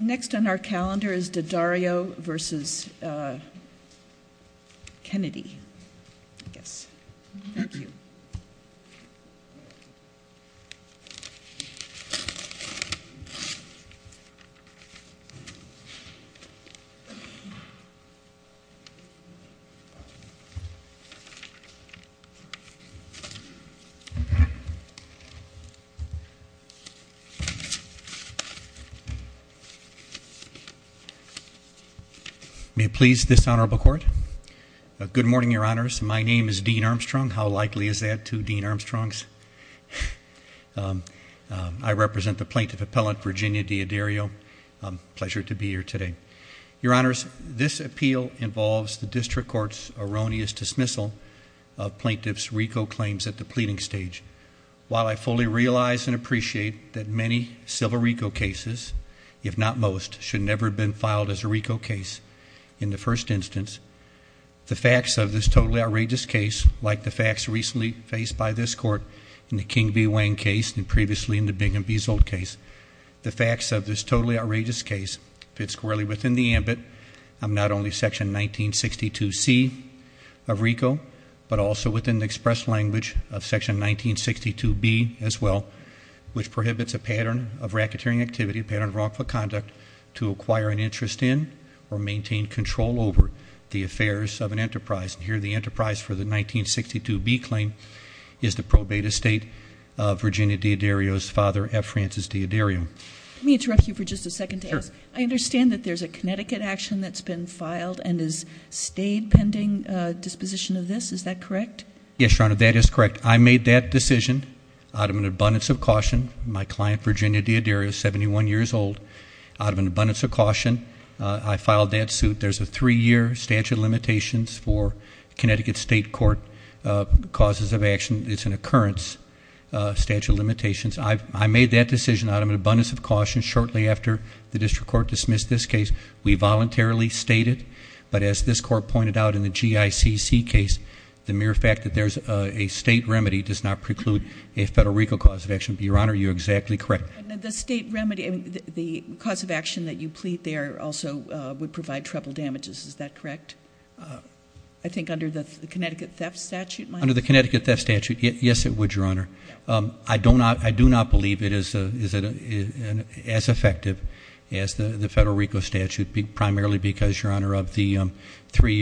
Next on our calendar is D'Addario v. Kennedy. D'Addario v. Kennedy May it please this Honorable Court. Good morning, Your Honors. My name is Dean Armstrong. How likely is that to Dean Armstrong's? I represent the Plaintiff Appellant, Virginia D'Addario. Pleasure to be here today. Your Honors, this appeal involves the District Court's erroneous dismissal of Plaintiff's RICO claims at the pleading stage, while I fully realize and appreciate that many civil RICO cases, if not most, should never have been filed as a RICO case in the first instance. The facts of this totally outrageous case, like the facts recently faced by this Court in the King v. Wang case and previously in the Bingham v. Zold case, the facts of this totally outrageous case fit squarely within the ambit of not only Section 1962C of RICO, but also within the express language of Section 1962B as well, which prohibits a pattern of blacketeering activity, a pattern of wrongful conduct, to acquire an interest in or maintain control over the affairs of an enterprise, and here the enterprise for the 1962B claim is the probate estate of Virginia D'Addario's father, F. Francis D'Addario. Let me interrupt you for just a second to ask. I understand that there's a Connecticut action that's been filed and has stayed pending disposition of this. Is that correct? Yes, Your Honor, that is correct. I made that decision out of an abundance of caution. My client, Virginia D'Addario, is 71 years old. Out of an abundance of caution, I filed that suit. There's a three-year statute of limitations for Connecticut State Court causes of action. It's an occurrence statute of limitations. I made that decision out of an abundance of caution shortly after the District Court dismissed this case. We voluntarily stated, but as this Court pointed out in the GICC case, the mere fact that there's a State remedy does not preclude a Federal RICO cause of action. Your Honor, you're exactly correct. The State remedy, the cause of action that you plead there also would provide treble damages. Is that correct? I think under the Connecticut theft statute? Under the Connecticut theft statute, yes, it would, Your Honor. I do not believe it is as effective as the Federal RICO statute, primarily because, Your Honor, we are taking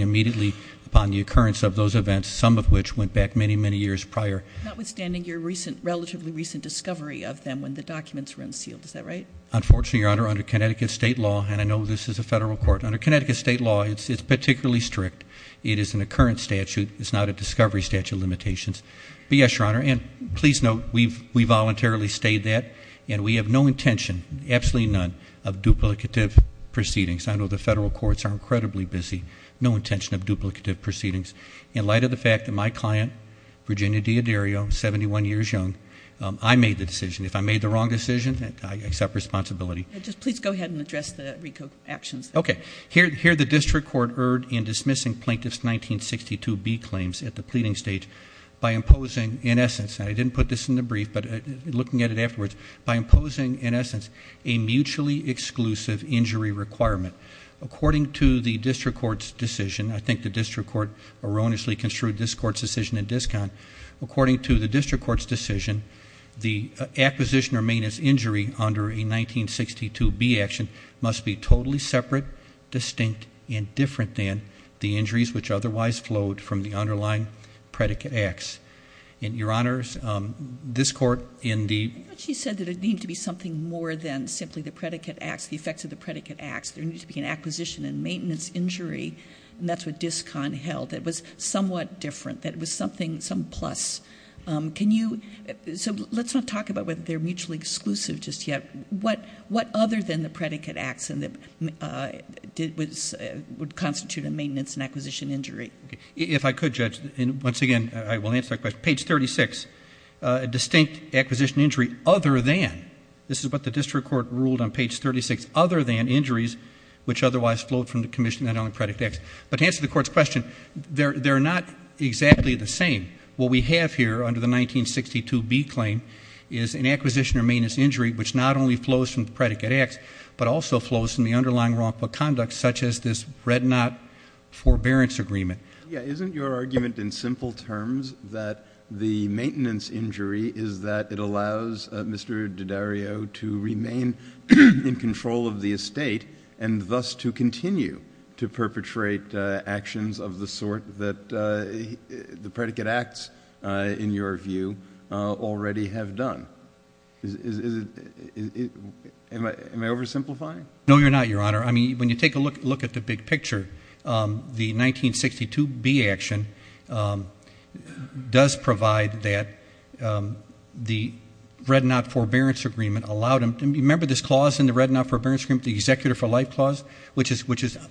immediately upon the occurrence of those events, some of which went back many, many years prior. Notwithstanding your recent, relatively recent discovery of them when the documents were unsealed. Is that right? Unfortunately, Your Honor, under Connecticut State law, and I know this is a Federal court, under Connecticut State law, it's particularly strict. It is an occurrence statute. It's not a discovery statute of limitations. But yes, Your Honor, and please note, we voluntarily stated that, and we have no intention, absolutely none, of duplicative proceedings. I know the Federal courts are incredibly busy. No intention of duplicative proceedings. In light of the fact that my client, Virginia D'Addario, 71 years young, I made the decision. If I made the wrong decision, I accept responsibility. Please go ahead and address the RICO actions. Okay. Here the district court erred in dismissing Plaintiff's 1962B claims at the pleading stage by imposing, in essence, and I didn't put this in the brief, but looking at it afterwards, by imposing, in essence, a mutually exclusive injury requirement. According to the district court's decision, I think the district court erroneously construed this court's decision in discount. According to the district court's decision, the acquisition or maintenance injury under a 1962B action must be totally separate, distinct, and different than the injuries which otherwise flowed from the underlying predicate acts. And, Your Honors, this court in the- I thought she said that it needed to be something more than simply the predicate acts, the effects of the predicate acts. There needs to be an acquisition and maintenance injury, and that's what discount held. It was somewhat different, that it was something, some plus. Can you, so let's not talk about whether they're mutually exclusive just yet. What other than the predicate acts would constitute a maintenance and acquisition injury? If I could, Judge, and once again, I will answer that question, page 36, a distinct acquisition injury other than, this is what the district court ruled on page 36, other than injuries which otherwise flowed from the commission that only predicate acts. But to answer the court's question, they're not exactly the same. What we have here under the 1962B claim is an acquisition or maintenance injury which not only flows from the predicate acts, but also flows from the underlying wrongful conduct such as this Red Knot Forbearance Agreement. Yeah, isn't your argument in simple terms that the maintenance injury is that it allows Mr. Daddario to remain in control of the estate and thus to continue to perpetrate actions of the sort that the predicate acts, in your view, already have done? Am I oversimplifying? No, you're not, Your Honor. I mean, when you take a look at the big picture, the 1962B action does provide that the Red Knot Forbearance Agreement allowed him to, remember this clause in the Red Knot Forbearance Agreement, the Executor for Life Clause, which is,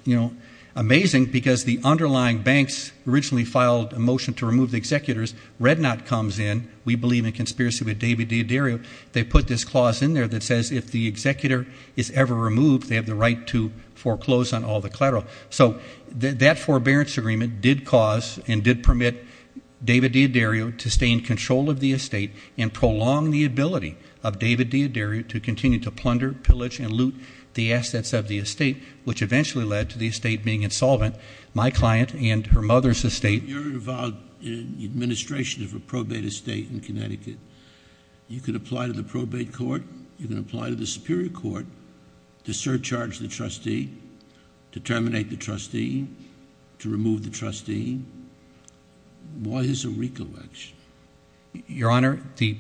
you know, amazing because the underlying banks originally filed a motion to remove the executors, Red Knot comes in, we believe in conspiracy with David Daddario, they put this clause in there that says if the executor is ever removed, they have the right to foreclose on all the collateral. So that Forbearance Agreement did cause and did permit David Daddario to stay in control of the estate and prolong the ability of David Daddario to continue to plunder, pillage and loot the assets of the estate, which eventually led to the estate being insolvent. My client and her mother's estate... You're involved in the administration of a probate estate in Connecticut. You can apply to the probate court, you can apply to the Superior Court to surcharge the trustee, to terminate the trustee, to remove the trustee. What is a recollection? Your Honor, the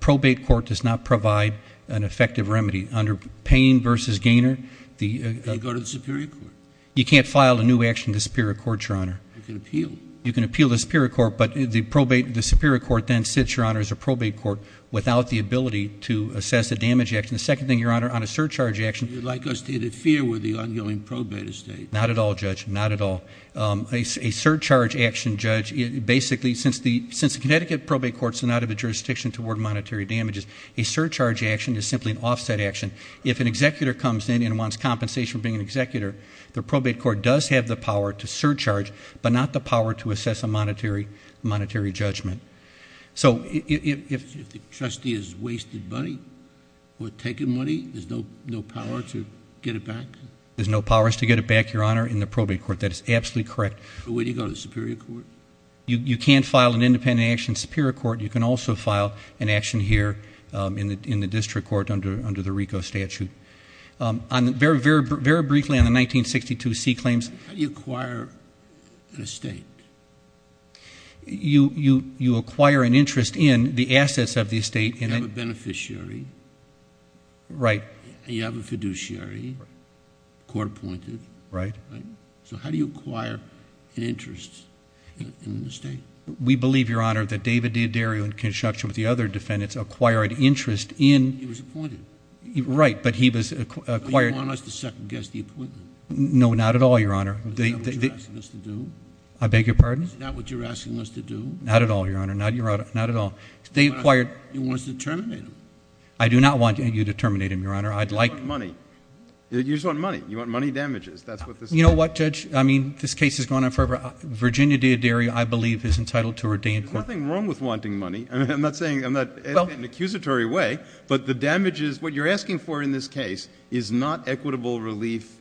probate court does not provide an effective remedy. Under Payne v. Gaynor, the... They go to the Superior Court. You can't file a new action to the Superior Court, Your Honor. You can appeal. You can appeal to the Superior Court, but the probate... the Superior Court then sits, Your Honor, as a probate court without the ability to assess a damage action. The second thing, Your Honor, on a surcharge action... You'd like us to interfere with the ongoing probate estate. Not at all, Judge. Not at all. A surcharge action, Judge, basically, since the Connecticut probate courts do not have a jurisdiction toward monetary damages, a surcharge action is simply an offset action. If an executor comes in and wants compensation for being an executor, the probate court does have the power to surcharge, but not the power to assess a monetary judgment. So if the trustee has wasted money or taken money, there's no power to get it back? There's no powers to get it back, Your Honor, in the probate court. That is absolutely correct. Where do you go? The Superior Court? You can't file an independent action in the Superior Court. You can also file an action here in the District Court under the RICO statute. Very briefly on the 1962 C claims... How do you acquire an estate? You acquire an interest in the assets of the estate... You have a beneficiary. Right. You have a fiduciary, court-appointed. Right. So how do you acquire an interest in the estate? We believe, Your Honor, that David D'Addario, in conjunction with the other defendants, acquired interest in... He was appointed. Right, but he was acquired... Do you want us to second-guess the appointment? No, not at all, Your Honor. Is that what you're asking us to do? I beg your pardon? Is that what you're asking us to do? Not at all, Your Honor. Not at all. They acquired... You want us to terminate him? I do not want you to terminate him, Your Honor. I'd like... You just want money. You just want money. You want money damages. That's what this is about. You know what, Judge? I mean, this case has gone on forever. Virginia D'Addario, I believe, is entitled to a redeeming... There's nothing wrong with wanting money. I'm not saying... Well... I'm not... in an accusatory way, but the damages... what you're asking for in this case is not equitable relief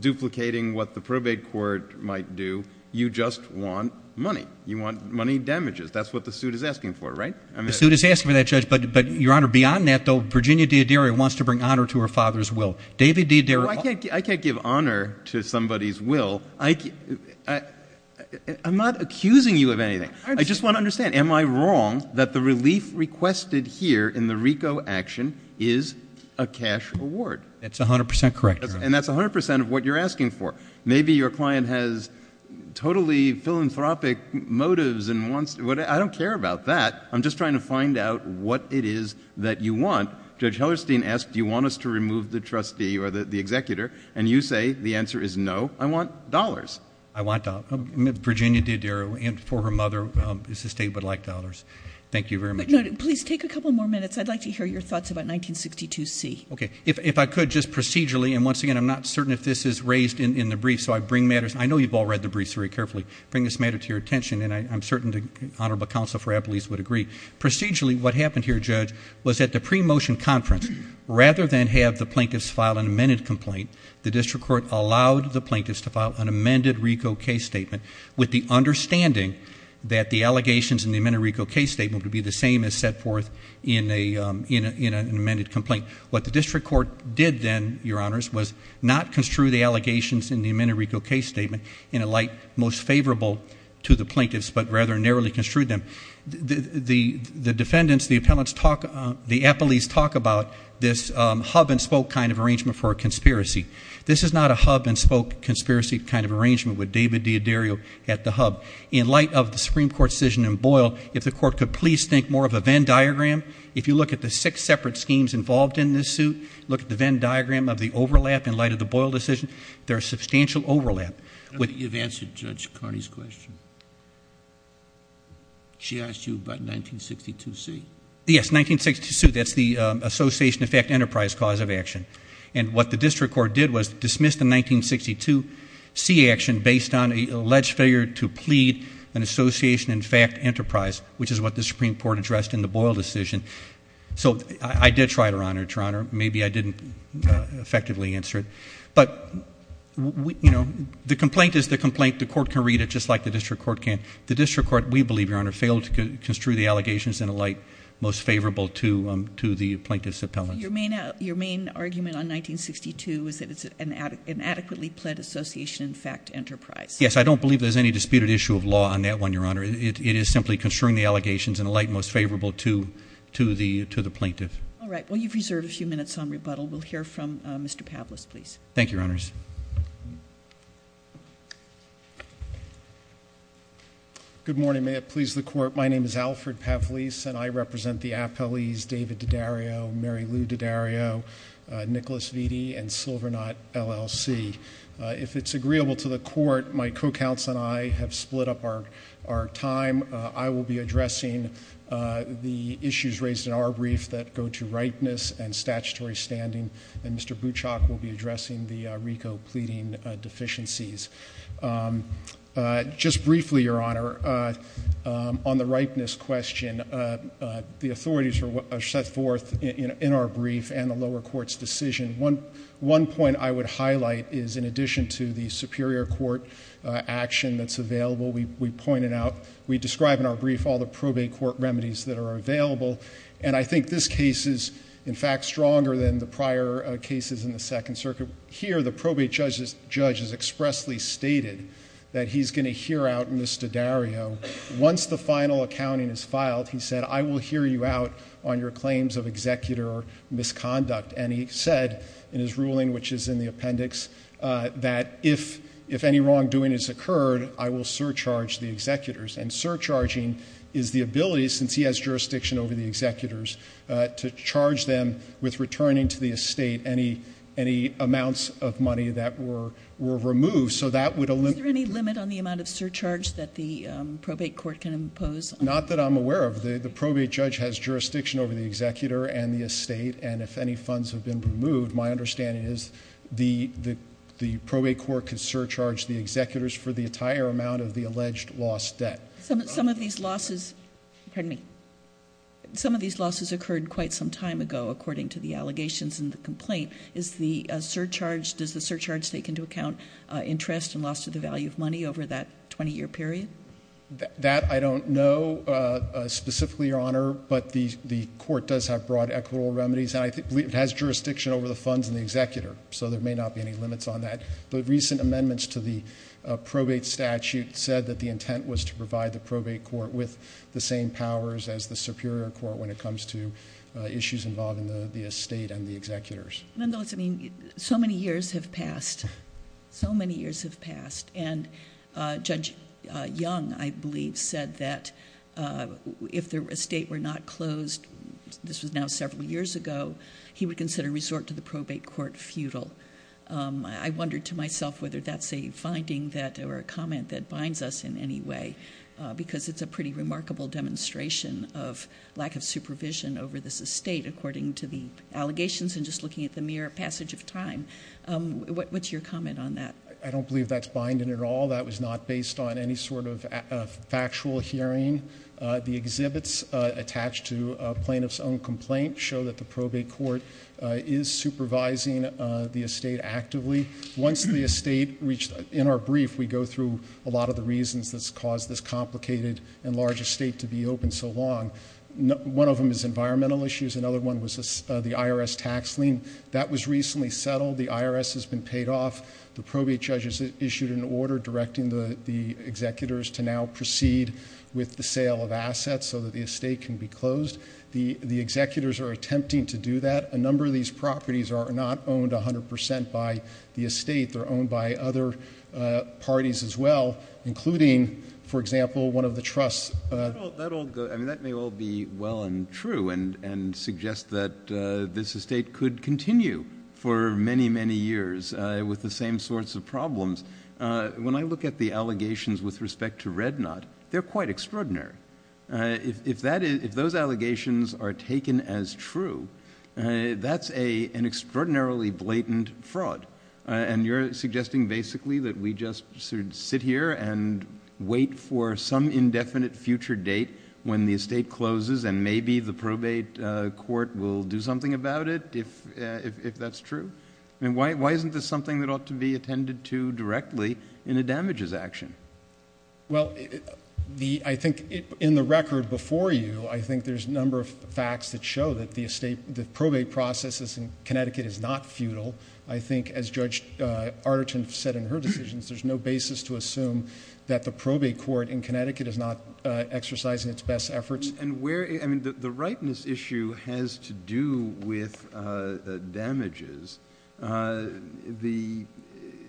duplicating what the probate court might do. You just want money. You want money damages. That's what the suit is asking for, right? I mean... The suit is asking for that, Judge, but, Your Honor, beyond that, though, Virginia D'Addario wants to bring honor to her father's will. David D'Addario... I can't give honor to somebody's will. I'm not accusing you of anything. I just want to understand. Am I wrong that the relief requested here in the RICO action is a cash award? That's 100 percent correct, Your Honor. And that's 100 percent of what you're asking for. Maybe your client has totally philanthropic motives and wants... I don't care about that. I'm just trying to find out what it is that you want. Now, Judge Hellerstein asked, do you want us to remove the trustee or the executor? And you say the answer is no. I want dollars. I want dollars. Virginia D'Addario, and for her mother, is a state that would like dollars. Thank you very much. Please take a couple more minutes. I'd like to hear your thoughts about 1962C. Okay. If I could, just procedurally, and once again, I'm not certain if this is raised in the brief, so I bring matters... I know you've all read the briefs very carefully. Bring this matter to your attention, and I'm certain the Honorable Counsel for Appalease would agree. Procedurally, what happened here, Judge, was that the pre-motion conference, rather than have the plaintiffs file an amended complaint, the district court allowed the plaintiffs to file an amended RICO case statement with the understanding that the allegations in the amended RICO case statement would be the same as set forth in an amended complaint. What the district court did then, Your Honors, was not construe the allegations in the amended RICO case statement in a light most favorable to the plaintiffs, but rather narrowly construed them. The defendants, the appellants talk... the Appalease talk about this hub-and-spoke kind of arrangement for a conspiracy. This is not a hub-and-spoke conspiracy kind of arrangement with David D'Addario at the hub. In light of the Supreme Court decision in Boyle, if the court could please think more of a Venn diagram. If you look at the six separate schemes involved in this suit, look at the Venn diagram of the overlap in light of the Boyle decision, there's substantial overlap with... She asked you about 1962C. Yes, 1962C, that's the association in fact enterprise cause of action. And what the district court did was dismiss the 1962C action based on an alleged failure to plead an association in fact enterprise, which is what the Supreme Court addressed in the Boyle decision. So I did try it, Your Honor. Maybe I didn't effectively answer it. But the complaint is the complaint. The court can read it just like the district court can. The district court, we believe, Your Honor, failed to construe the allegations in a light most favorable to the plaintiff's appellant. Your main argument on 1962 is that it's an adequately pled association in fact enterprise. Yes, I don't believe there's any disputed issue of law on that one, Your Honor. It is simply construing the allegations in a light most favorable to the plaintiff. All right. Well, you've reserved a few minutes on rebuttal. Thank you, Your Honors. Good morning. May it please the court. My name is Alfred Pavlis and I represent the appellees David Daddario, Mary Lou Daddario, Nicholas Vitti, and Silvernot LLC. If it's agreeable to the court, my co-counsel and I have split up our time. I will be addressing the issues raised in our brief that go to rightness and statutory standing and Mr. Bouchock will be addressing the RICO pleading deficiencies. Just briefly, Your Honor, on the rightness question, the authorities are set forth in our brief and the lower court's decision. One point I would highlight is in addition to the superior court action that's available, we pointed out, we describe in our brief all the probate court remedies that are available and I think this case is, in fact, stronger than the prior cases in the Second Circuit. Here the probate judge has expressly stated that he's going to hear out Mr. Daddario. Once the final accounting is filed, he said, I will hear you out on your claims of executor or misconduct and he said in his ruling, which is in the appendix, that if any wrongdoing has occurred, I will surcharge the executors and surcharging is the ability, since he has jurisdiction over the executors, to charge them with returning to the estate any amounts of money that were removed, so that would- Is there any limit on the amount of surcharge that the probate court can impose? Not that I'm aware of. The probate judge has jurisdiction over the executor and the estate and if any funds have been removed, my understanding is the probate court can surcharge the executors for the entire amount of the alleged lost debt. Some of these losses occurred quite some time ago, according to the allegations in the complaint. Does the surcharge take into account interest and loss to the value of money over that 20 year period? That I don't know specifically, Your Honor, but the court does have broad equitable remedies. And I believe it has jurisdiction over the funds and the executor, so there may not be any limits on that. But recent amendments to the probate statute said that the intent was to provide the probate court with the same powers as the superior court when it comes to issues involving the estate and the executors. Nonetheless, I mean, so many years have passed. So many years have passed, and Judge Young, I believe, said that if the estate were not closed, this was now several years ago, he would consider resort to the probate court futile. I wonder to myself whether that's a finding that, or a comment that binds us in any way. Because it's a pretty remarkable demonstration of lack of supervision over this estate, according to the allegations, and just looking at the mere passage of time. What's your comment on that? I don't believe that's binding at all. That was not based on any sort of factual hearing. The exhibits attached to a plaintiff's own complaint show that the probate court is supervising the estate actively. Once the estate reached, in our brief, we go through a lot of the reasons that's caused this complicated and large estate to be open so long. One of them is environmental issues, another one was the IRS tax lien. That was recently settled. The IRS has been paid off. The probate judges issued an order directing the executors to now proceed with the sale of assets so that the estate can be closed. The executors are attempting to do that. A number of these properties are not owned 100% by the estate. They're owned by other parties as well, including, for example, one of the trusts. That may all be well and true, and suggest that this estate could continue for many, many years with the same sorts of problems. When I look at the allegations with respect to Red Knot, they're quite extraordinary. If those allegations are taken as true, that's an extraordinarily blatant fraud. And you're suggesting basically that we just sit here and wait for some indefinite future date when the estate closes and maybe the probate court will do something about it if that's true? And why isn't this something that ought to be attended to directly in a damages action? Well, I think in the record before you, I think there's a number of facts that show that the probate process in Connecticut is not futile. I think, as Judge Arterton said in her decisions, there's no basis to assume that the probate court in Connecticut is not exercising its best efforts. And where, I mean, the rightness issue has to do with the damages.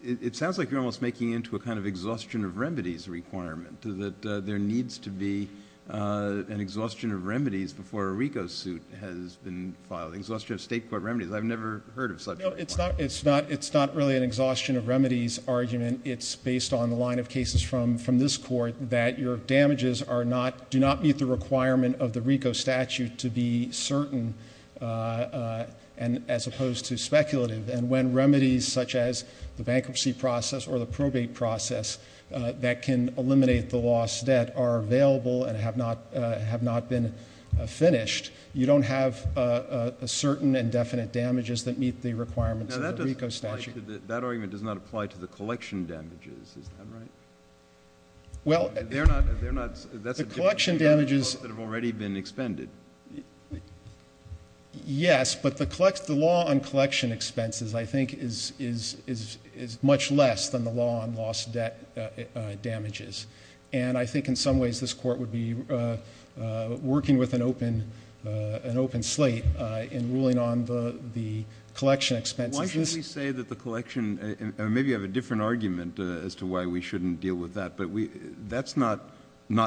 It sounds like you're almost making into a kind of exhaustion of remedies requirement, that there needs to be an exhaustion of remedies before a RICO suit has been filed. Exhaustion of state court remedies, I've never heard of such a requirement. It's not really an exhaustion of remedies argument. It's based on the line of cases from this court that your damages do not meet the requirement of the RICO statute to be certain. And as opposed to speculative, and when remedies such as the bankruptcy process or the probate process that can eliminate the lost debt are available and have not been finished, you don't have a certain and definite damages that meet the requirements of the RICO statute. That argument does not apply to the collection damages. Is that right? Well, they're not, that's a different- The collection damages- That have already been expended. Yes, but the law on collection expenses I think is much less than the law on lost debt damages. And I think in some ways this court would be working with an open slate in ruling on the collection expenses. Why should we say that the collection, or maybe you have a different argument as to why we shouldn't deal with that. But that's not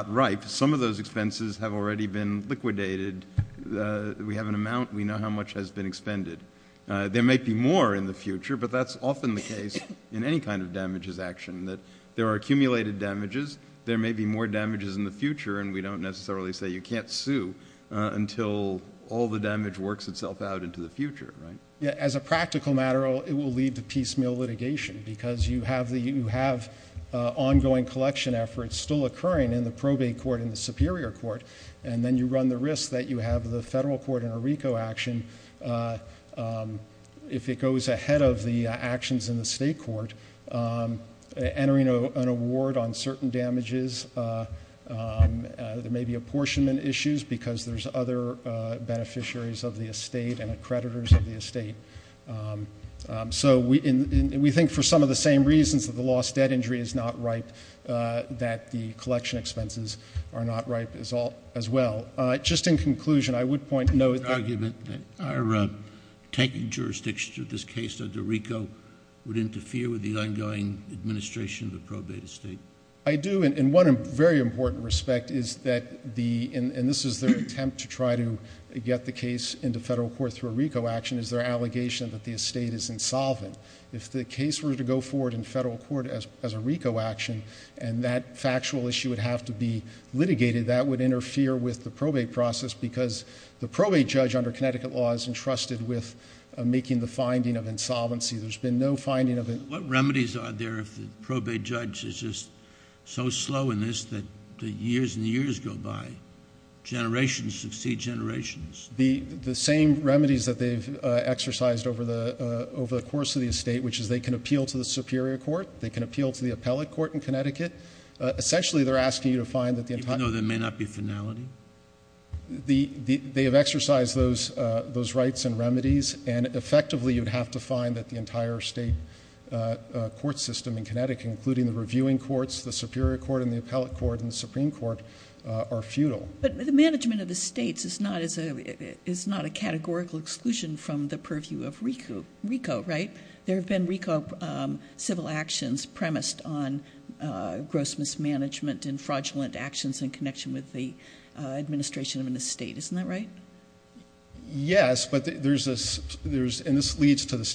right. Some of those expenses have already been liquidated. We have an amount, we know how much has been expended. There may be more in the future, but that's often the case in any kind of damages action. That there are accumulated damages, there may be more damages in the future, and we don't necessarily say you can't sue until all the damage works itself out into the future, right? Yeah, as a practical matter, it will lead to piecemeal litigation. Because you have ongoing collection efforts still occurring in the probate court and the superior court. And then you run the risk that you have the federal court in a RICO action. If it goes ahead of the actions in the state court, entering an award on certain damages, there may be apportionment issues because there's other beneficiaries of the estate and accreditors of the estate. So we think for some of the same reasons that the lost debt injury is not right, that the collection expenses are not right as well. Just in conclusion, I would point out- Argument that our taking jurisdiction to this case under RICO would interfere with the ongoing administration of the probate estate. I do, and one very important respect is that, and this is their attempt to try to get the case into federal court through a RICO action, is their allegation that the estate is insolvent. If the case were to go forward in federal court as a RICO action, and that factual issue would have to be litigated, that would interfere with the probate process because the probate judge under Connecticut law is entrusted with making the finding of insolvency. There's been no finding of it- What remedies are there if the probate judge is just so slow in this that the years and the years go by? Generations succeed generations. The same remedies that they've exercised over the course of the estate, which is they can appeal to the superior court. They can appeal to the appellate court in Connecticut. Essentially, they're asking you to find that the entire- Even though there may not be finality? They have exercised those rights and remedies, and effectively, you'd have to find that the entire state court system in Connecticut, including the reviewing courts, the superior court, and the appellate court, and the supreme court, are futile. But the management of the states is not a categorical exclusion from the purview of RICO, right? There have been RICO civil actions premised on gross mismanagement and fraudulent actions in connection with the administration of an estate. Isn't that right? Yes, and this leads to the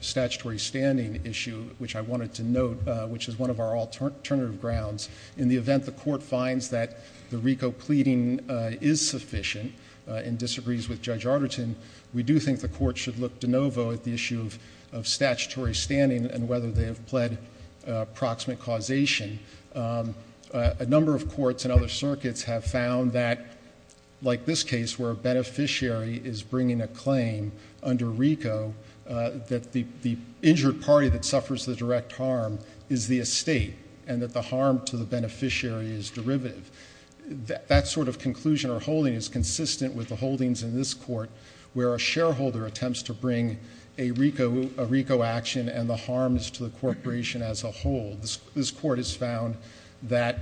statutory standing issue, which I wanted to note, which is one of our alternative grounds. In the event the court finds that the RICO pleading is sufficient and disagrees with Judge Arterton, we do think the court should look de novo at the issue of statutory standing and whether they have pled proximate causation. A number of courts and other circuits have found that, like this case where a beneficiary is bringing a claim under RICO that the injured party that suffers the direct harm is the estate. And that the harm to the beneficiary is derivative. That sort of conclusion or holding is consistent with the holdings in this court, where a shareholder attempts to bring a RICO action and the harms to the corporation as a whole. This court has found that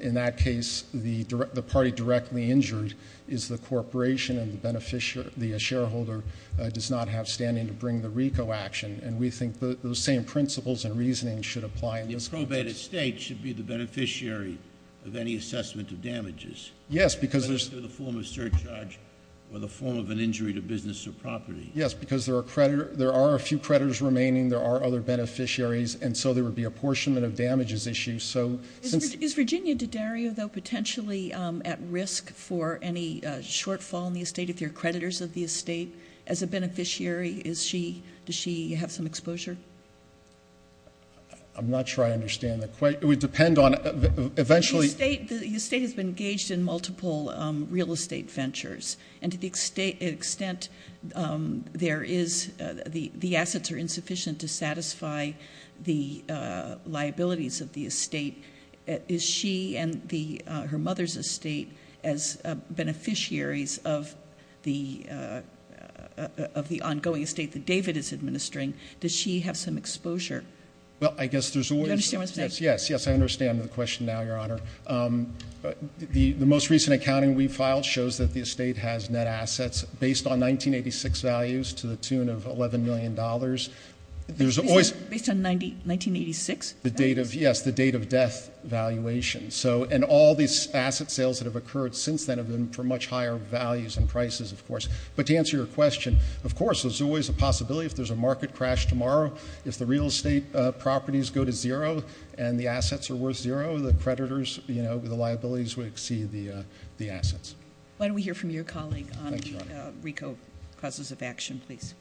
in that case, the party directly injured is the corporation and the shareholder does not have standing to bring the RICO action. And we think those same principles and reasoning should apply in this context. The probated state should be the beneficiary of any assessment of damages. Yes, because there's- Whether it's through the form of surcharge or the form of an injury to business or property. Yes, because there are a few creditors remaining, there are other beneficiaries, and so there would be apportionment of damages issues, so since- Is Virginia D'Addario, though, potentially at risk for any shortfall in the estate if they're creditors of the estate? As a beneficiary, does she have some exposure? I'm not sure I understand the question. It would depend on eventually- The estate has been engaged in multiple real estate ventures. And to the extent there is, the assets are insufficient to satisfy the liabilities of the estate, is she and her mother's estate as beneficiaries of the ongoing estate that David is administering, does she have some exposure? Well, I guess there's always- Do you understand what I'm saying? Yes, yes, I understand the question now, Your Honor. The most recent accounting we filed shows that the estate has net assets based on 1986 values to the tune of $11 million. There's always- Based on 1986? Yes, the date of death valuation. And all these asset sales that have occurred since then have been for much higher values and prices, of course. But to answer your question, of course, there's always a possibility if there's a market crash tomorrow, if the real estate properties go to zero and the assets are worth zero, the creditors, the liabilities would exceed the assets. Why don't we hear from your colleague on the RICO clauses of action, please?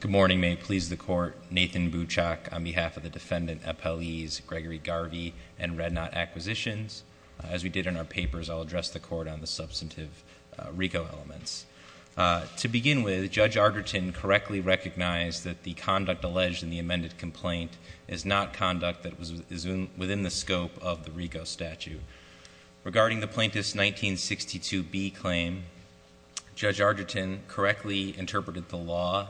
Good morning, may it please the court. Nathan Buchok on behalf of the defendant, appellees Gregory Garvey and Red Knot Acquisitions. As we did in our papers, I'll address the court on the substantive RICO elements. To begin with, Judge Arderton correctly recognized that the conduct alleged in the amended complaint is not conduct that is within the scope of the RICO statute. Regarding the plaintiff's 1962B claim, Judge Arderton correctly interpreted the law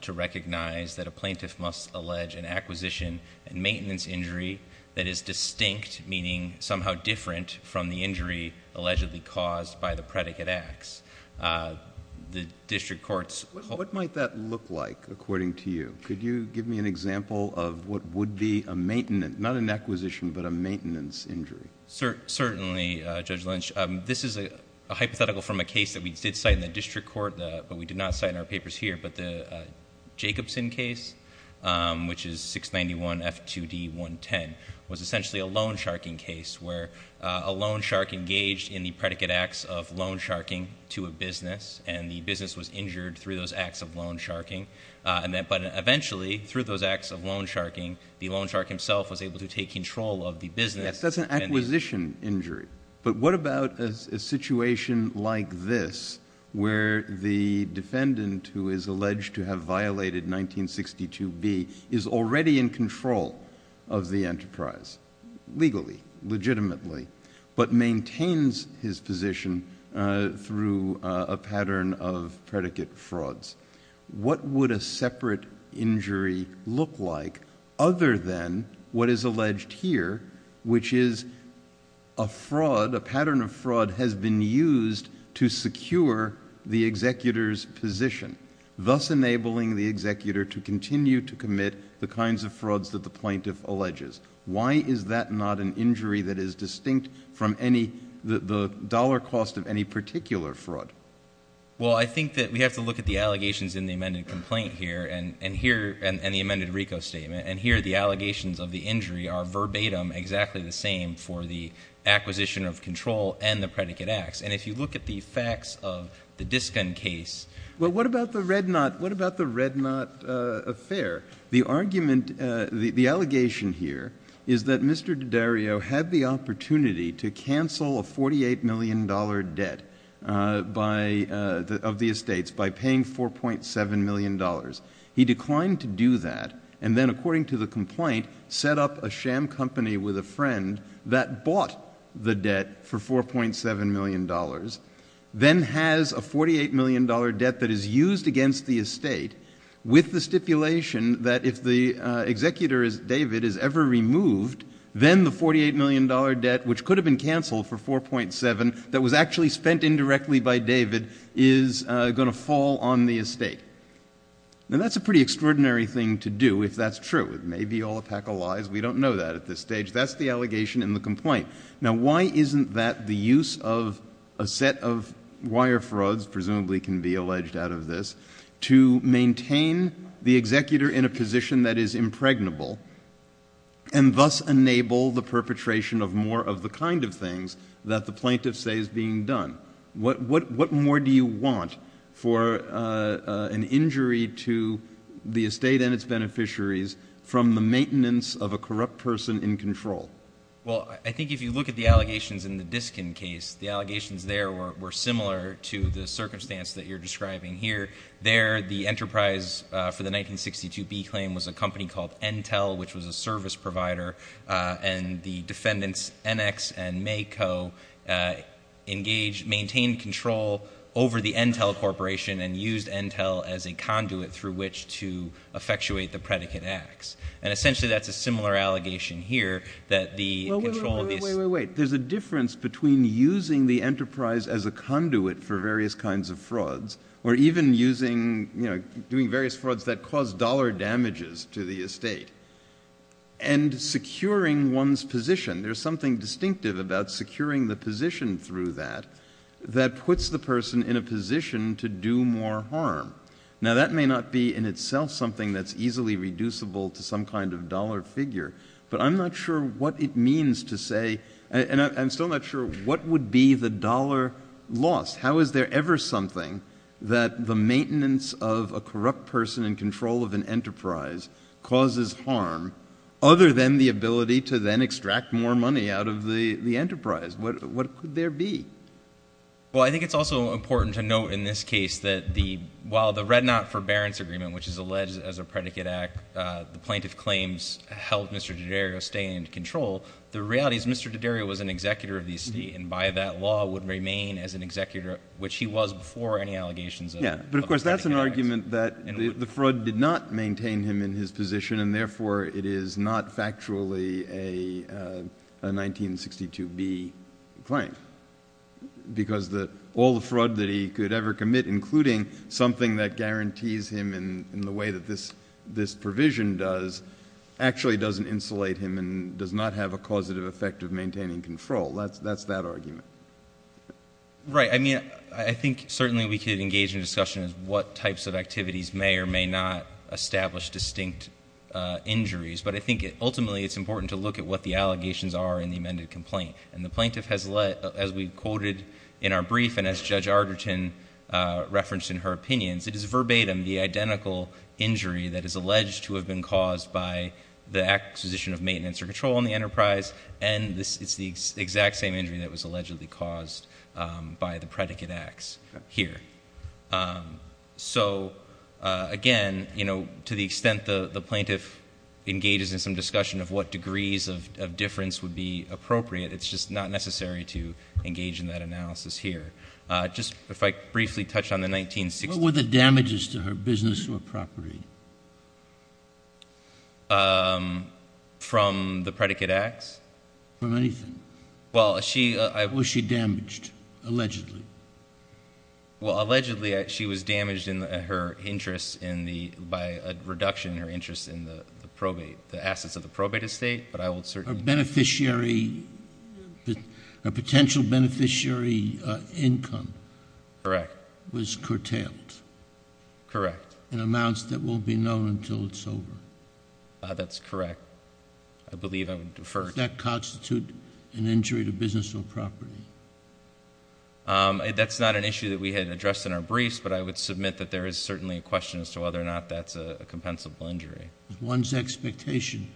to recognize that a plaintiff must allege an acquisition and maintenance injury that is distinct, meaning somehow different from the injury allegedly caused by the predicate acts. The district court's- What might that look like, according to you? Could you give me an example of what would be a maintenance, not an acquisition, but a maintenance injury? Certainly, Judge Lynch. This is a hypothetical from a case that we did cite in the district court, but we did not cite in our papers here. But the Jacobson case, which is 691F2D110, was essentially a loan sharking case, where a loan shark engaged in the predicate acts of loan sharking to a business, and the business was injured through those acts of loan sharking. But eventually, through those acts of loan sharking, the loan shark himself was able to take control of the business. That's an acquisition injury. But what about a situation like this, where the defendant, who is alleged to have violated 1962B, is already in control of the enterprise, legally, legitimately, but maintains his position through a pattern of predicate frauds? What would a separate injury look like, other than what is alleged here, which is a fraud, a pattern of fraud, has been used to secure the executor's position. Thus enabling the executor to continue to commit the kinds of frauds that the plaintiff alleges. Why is that not an injury that is distinct from the dollar cost of any particular fraud? Well, I think that we have to look at the allegations in the amended complaint here, and here, and the amended RICO statement. And here, the allegations of the injury are verbatim exactly the same for the acquisition of control and the predicate acts. And if you look at the facts of the Disken case. Well, what about the Red Knot, what about the Red Knot affair? The argument, the allegation here is that Mr. David has a $48 million debt of the estates by paying $4.7 million. He declined to do that, and then according to the complaint, set up a sham company with a friend that bought the debt for $4.7 million. Then has a $48 million debt that is used against the estate with the stipulation that if the executor, David, is ever removed, then the $48 million debt, which could have been canceled for $4.7 million, that was actually spent indirectly by David, is going to fall on the estate. And that's a pretty extraordinary thing to do, if that's true. It may be all a pack of lies. We don't know that at this stage. That's the allegation in the complaint. Now, why isn't that the use of a set of wire frauds, presumably can be alleged out of this, to maintain the executor in a position that is impregnable and thus enable the perpetration of more of the kind of things that the plaintiff says is being done? What more do you want for an injury to the estate and its beneficiaries from the maintenance of a corrupt person in control? Well, I think if you look at the allegations in the Diskin case, the allegations there were similar to the circumstance that you're describing here. There, the enterprise for the 1962 B claim was a company called Intel, which was a service provider, and the defendants, NX and Mayco, maintained control over the Intel Corporation and used Intel as a conduit through which to effectuate the predicate acts. And essentially, that's a similar allegation here, that the control of the- Wait, wait, wait, wait, wait, there's a difference between using the enterprise as a conduit for even using, doing various frauds that cause dollar damages to the estate and securing one's position. There's something distinctive about securing the position through that that puts the person in a position to do more harm. Now that may not be in itself something that's easily reducible to some kind of dollar figure, but I'm not sure what it means to say, and I'm still not sure what would be the dollar loss. How is there ever something that the maintenance of a corrupt person in control of an enterprise causes harm other than the ability to then extract more money out of the enterprise? What could there be? Well, I think it's also important to note in this case that the, while the Red Knot Forbearance Agreement, which is alleged as a predicate act, the plaintiff claims held Mr. D'Addario staying in control. The reality is Mr. D'Addario was an executor of the estate, and by that law would remain as an executor, which he was before any allegations of- Yeah, but of course that's an argument that the fraud did not maintain him in his position, and therefore it is not factually a 1962B claim. Because all the fraud that he could ever commit, including something that guarantees him in the way that this would have a causative effect of maintaining control, that's that argument. Right, I mean, I think certainly we could engage in discussion as what types of activities may or may not establish distinct injuries. But I think ultimately it's important to look at what the allegations are in the amended complaint. And the plaintiff has let, as we quoted in our brief, and as Judge Arterton referenced in her opinions, it is verbatim the identical injury that is alleged to have been caused by the acquisition of maintenance or control on the enterprise. And it's the exact same injury that was allegedly caused by the predicate acts here. So again, to the extent the plaintiff engages in some discussion of what degrees of difference would be appropriate, it's just not necessary to engage in that analysis here. Just if I briefly touch on the 1960s- What were the damages to her business or property? From the predicate acts? From anything? Well, she- Was she damaged, allegedly? Well, allegedly she was damaged by a reduction in her interest in the assets of the probate estate, but I will certainly- A beneficiary, a potential beneficiary income. Correct. Was curtailed. Correct. In amounts that won't be known until it's over. That's correct. I believe I would defer. Does that constitute an injury to business or property? That's not an issue that we had addressed in our briefs, but I would submit that there is certainly a question as to whether or not that's a compensable injury. One's expectation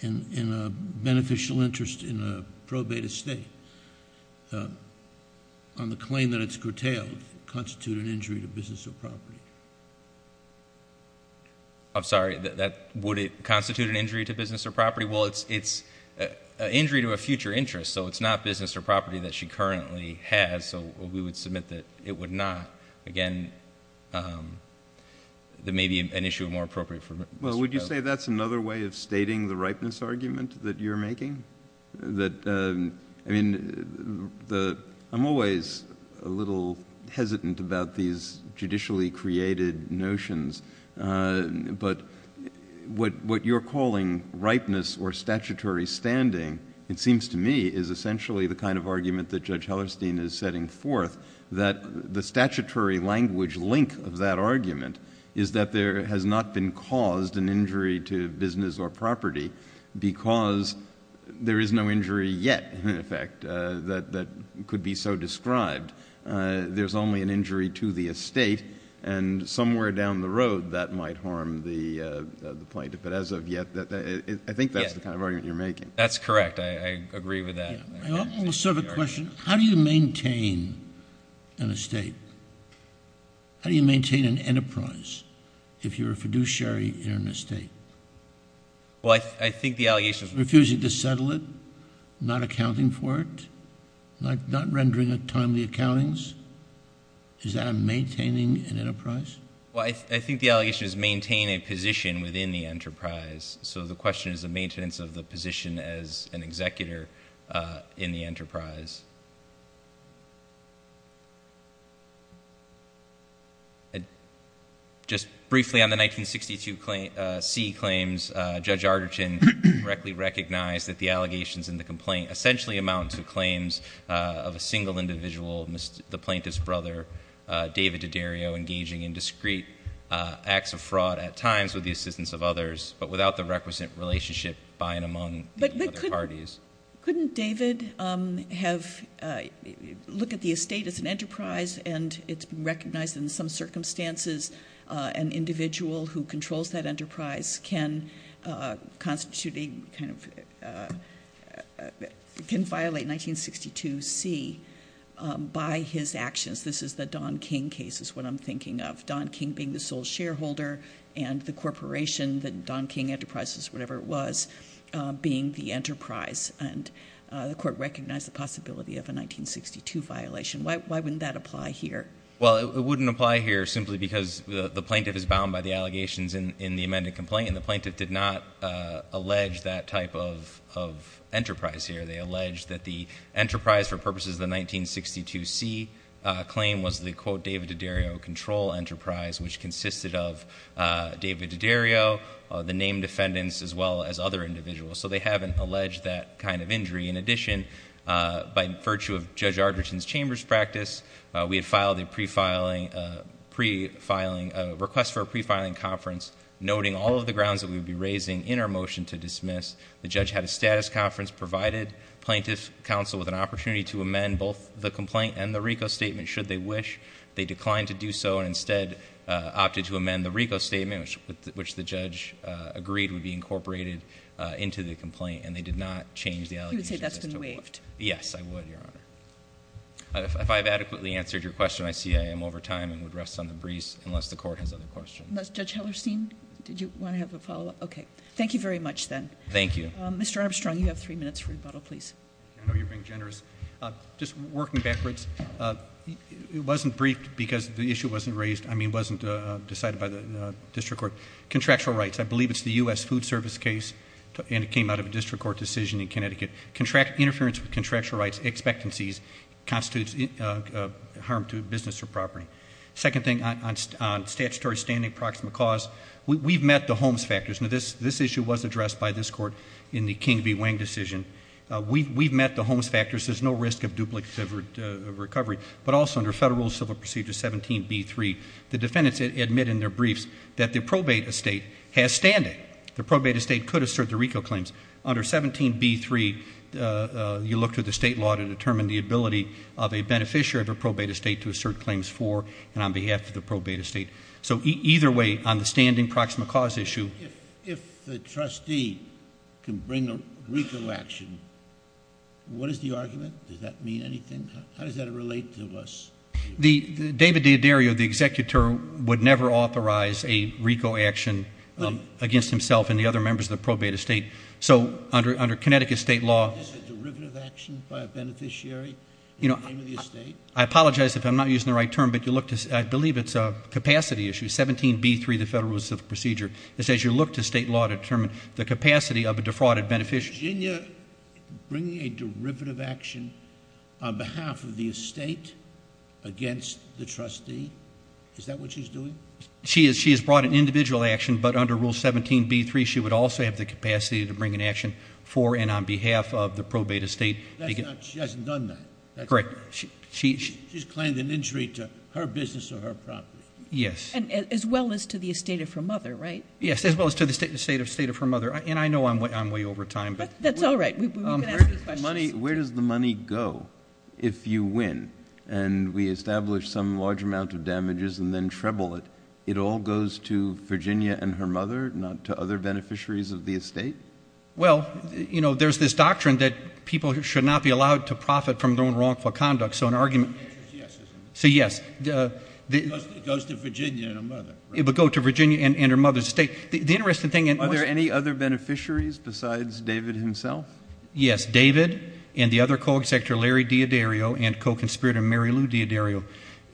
in a beneficial interest in a probate estate on the claim that it's curtailed constitute an injury to business or property. I'm sorry, would it constitute an injury to business or property? Well, it's an injury to a future interest, so it's not business or property that she currently has. So we would submit that it would not. Again, there may be an issue more appropriate for Mr. Powell. Well, would you say that's another way of stating the ripeness argument that you're making? I'm always a little hesitant about these judicially created notions, but what you're calling ripeness or statutory standing, it seems to me, is essentially the kind of argument that Judge Hellerstein is setting forth, that the statutory language link of that argument is that there has not been caused an injury to business or property because there is no injury yet, in effect, that could be so described. There's only an injury to the estate, and somewhere down the road that might harm the plaintiff. But as of yet, I think that's the kind of argument you're making. That's correct, I agree with that. I also have a question. How do you maintain an estate? How do you maintain an enterprise if you're a fiduciary in an estate? Well, I think the allegation- Refusing to settle it, not accounting for it, not rendering a timely accountings, is that a maintaining an enterprise? Well, I think the allegation is maintain a position within the enterprise. So the question is the maintenance of the position as an executor in the enterprise. Just briefly, on the 1962 C claims, Judge Arterton correctly recognized that the allegations in the complaint essentially amount to claims of a single individual, the plaintiff's brother, David D'Addario engaging in discreet acts of fraud at times with the assistance of others, but without the requisite relationship by and among the other parties. Couldn't David look at the estate as an enterprise, and it's recognized in some circumstances an individual who controls that enterprise can constitute a kind of, can violate 1962 C by his actions. This is the Don King case is what I'm thinking of. Don King being the sole shareholder and the corporation that Don King Enterprises, whatever it was, being the enterprise. And the court recognized the possibility of a 1962 violation. Why wouldn't that apply here? Well, it wouldn't apply here simply because the plaintiff is bound by the allegations in the amended complaint. And the plaintiff did not allege that type of enterprise here. They allege that the enterprise for purposes of the 1962 C claim was the quote, David D'Addario control enterprise, which consisted of David D'Addario, the named defendants, as well as other individuals. So they haven't alleged that kind of injury. In addition, by virtue of Judge Arterton's chamber's practice, we had filed a request for a pre-filing conference, noting all of the grounds that we would be raising in our motion to dismiss. The judge had a status conference, provided plaintiff counsel with an opportunity to amend both the complaint and the RICO statement, should they wish. They declined to do so, and instead opted to amend the RICO statement, which the judge agreed would be incorporated into the complaint, and they did not change the allegations. He would say that's been waived. Yes, I would, your honor. If I've adequately answered your question, I see I am over time and would rest on the breeze, unless the court has other questions. Judge Hellerstein, did you want to have a follow up? Okay, thank you very much then. Thank you. Mr. Armstrong, you have three minutes for rebuttal, please. I know you're being generous. Just working backwards, it wasn't briefed because the issue wasn't decided by the district court. Contractual rights, I believe it's the US Food Service case, and it came out of a district court decision in Connecticut. Interference with contractual rights expectancies constitutes harm to business or property. Second thing, on statutory standing proximate cause, we've met the homes factors. Now this issue was addressed by this court in the King v. Wang decision, we've met the homes factors, there's no risk of duplicate recovery. But also under federal civil procedure 17B3, the defendants admit in their briefs that the probate estate has standing. The probate estate could assert the RICO claims. Under 17B3, you look to the state law to determine the ability of a beneficiary of a probate estate to assert claims for, and on behalf of the probate estate, so either way, on the standing proximate cause issue. If the trustee can bring a RICO action, what is the argument? Does that mean anything? How does that relate to us? The David D'Addario, the executor, would never authorize a RICO action against himself and the other members of the probate estate. So under Connecticut state law- Is this a derivative action by a beneficiary in the name of the estate? I apologize if I'm not using the right term, but you look to, I believe it's a capacity issue, 17B3, the federal civil procedure. It says you look to state law to determine the capacity of a defrauded beneficiary. Isn't your bringing a derivative action on behalf of the estate against the trustee? Is that what she's doing? She has brought an individual action, but under rule 17B3, she would also have the capacity to bring an action for and on behalf of the probate estate. That's not, she hasn't done that. Correct. She's claimed an injury to her business or her property. Yes. And as well as to the estate of her mother, right? Yes, as well as to the estate of her mother. And I know I'm way over time, but- That's all right, we've got a few questions. Where does the money go if you win and we establish some large amount of damages and then treble it? It all goes to Virginia and her mother, not to other beneficiaries of the estate? Well, there's this doctrine that people should not be allowed to profit from their own wrongful conduct. So an argument- The answer is yes, isn't it? So yes. It goes to Virginia and her mother, right? It would go to Virginia and her mother's estate. The interesting thing- Are there any other beneficiaries besides David himself? Yes, David and the other co-executor, Larry D'Addario, and co-conspirator Mary Lou D'Addario.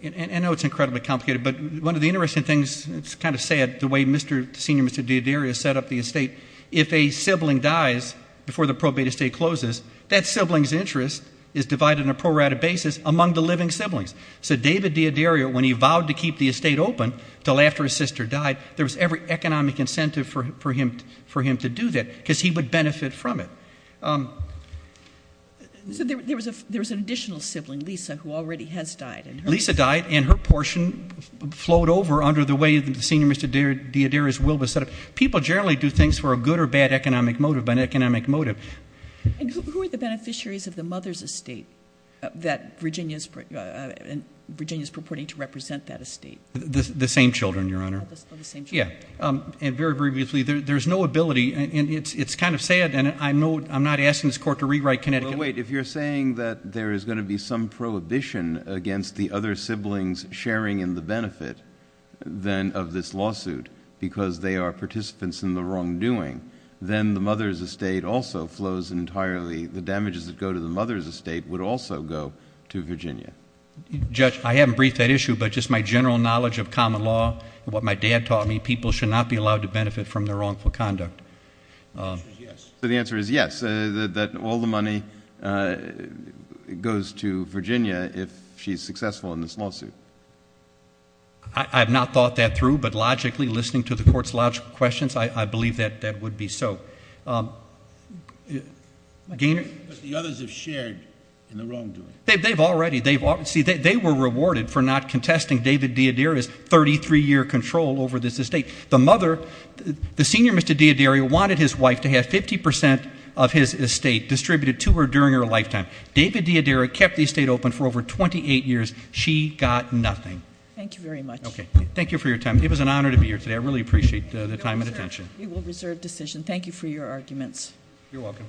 And I know it's incredibly complicated, but one of the interesting things, it's kind of sad, the way Senior Mr. D'Addario set up the estate. If a sibling dies before the probate estate closes, that sibling's interest is divided on a pro-rata basis among the living siblings. So David D'Addario, when he vowed to keep the estate open until after his sister died, there was every economic incentive for him to do that, because he would benefit from it. So there was an additional sibling, Lisa, who already has died. Lisa died, and her portion flowed over under the way that Senior Mr. D'Addario's will was set up. People generally do things for a good or bad economic motive, an economic motive. And who are the beneficiaries of the mother's estate that Virginia's purporting to represent that estate? The same children, Your Honor. Oh, the same children. Yeah, and very briefly, there's no ability, and it's kind of sad, and I'm not asking this court to rewrite Connecticut. Wait, if you're saying that there is going to be some prohibition against the other siblings sharing in the benefit then of this lawsuit, because they are participants in the wrongdoing, then the mother's estate also flows entirely. The damages that go to the mother's estate would also go to Virginia. Judge, I haven't briefed that issue, but just my general knowledge of common law, and what my dad taught me, people should not be allowed to benefit from their wrongful conduct. The answer is yes. So the answer is yes, that all the money goes to Virginia if she's successful in this lawsuit. I have not thought that through, but logically, listening to the court's logical questions, I believe that that would be so. But the others have shared in the wrongdoing. They've already, see, they were rewarded for not contesting David D'Addario's 33 year control over this estate. The mother, the senior Mr. D'Addario wanted his wife to have 50% of his estate distributed to her during her lifetime. David D'Addario kept the estate open for over 28 years. She got nothing. Thank you very much. Okay, thank you for your time. It was an honor to be here today. I really appreciate the time and attention. We will reserve decision. Thank you for your arguments. You're welcome.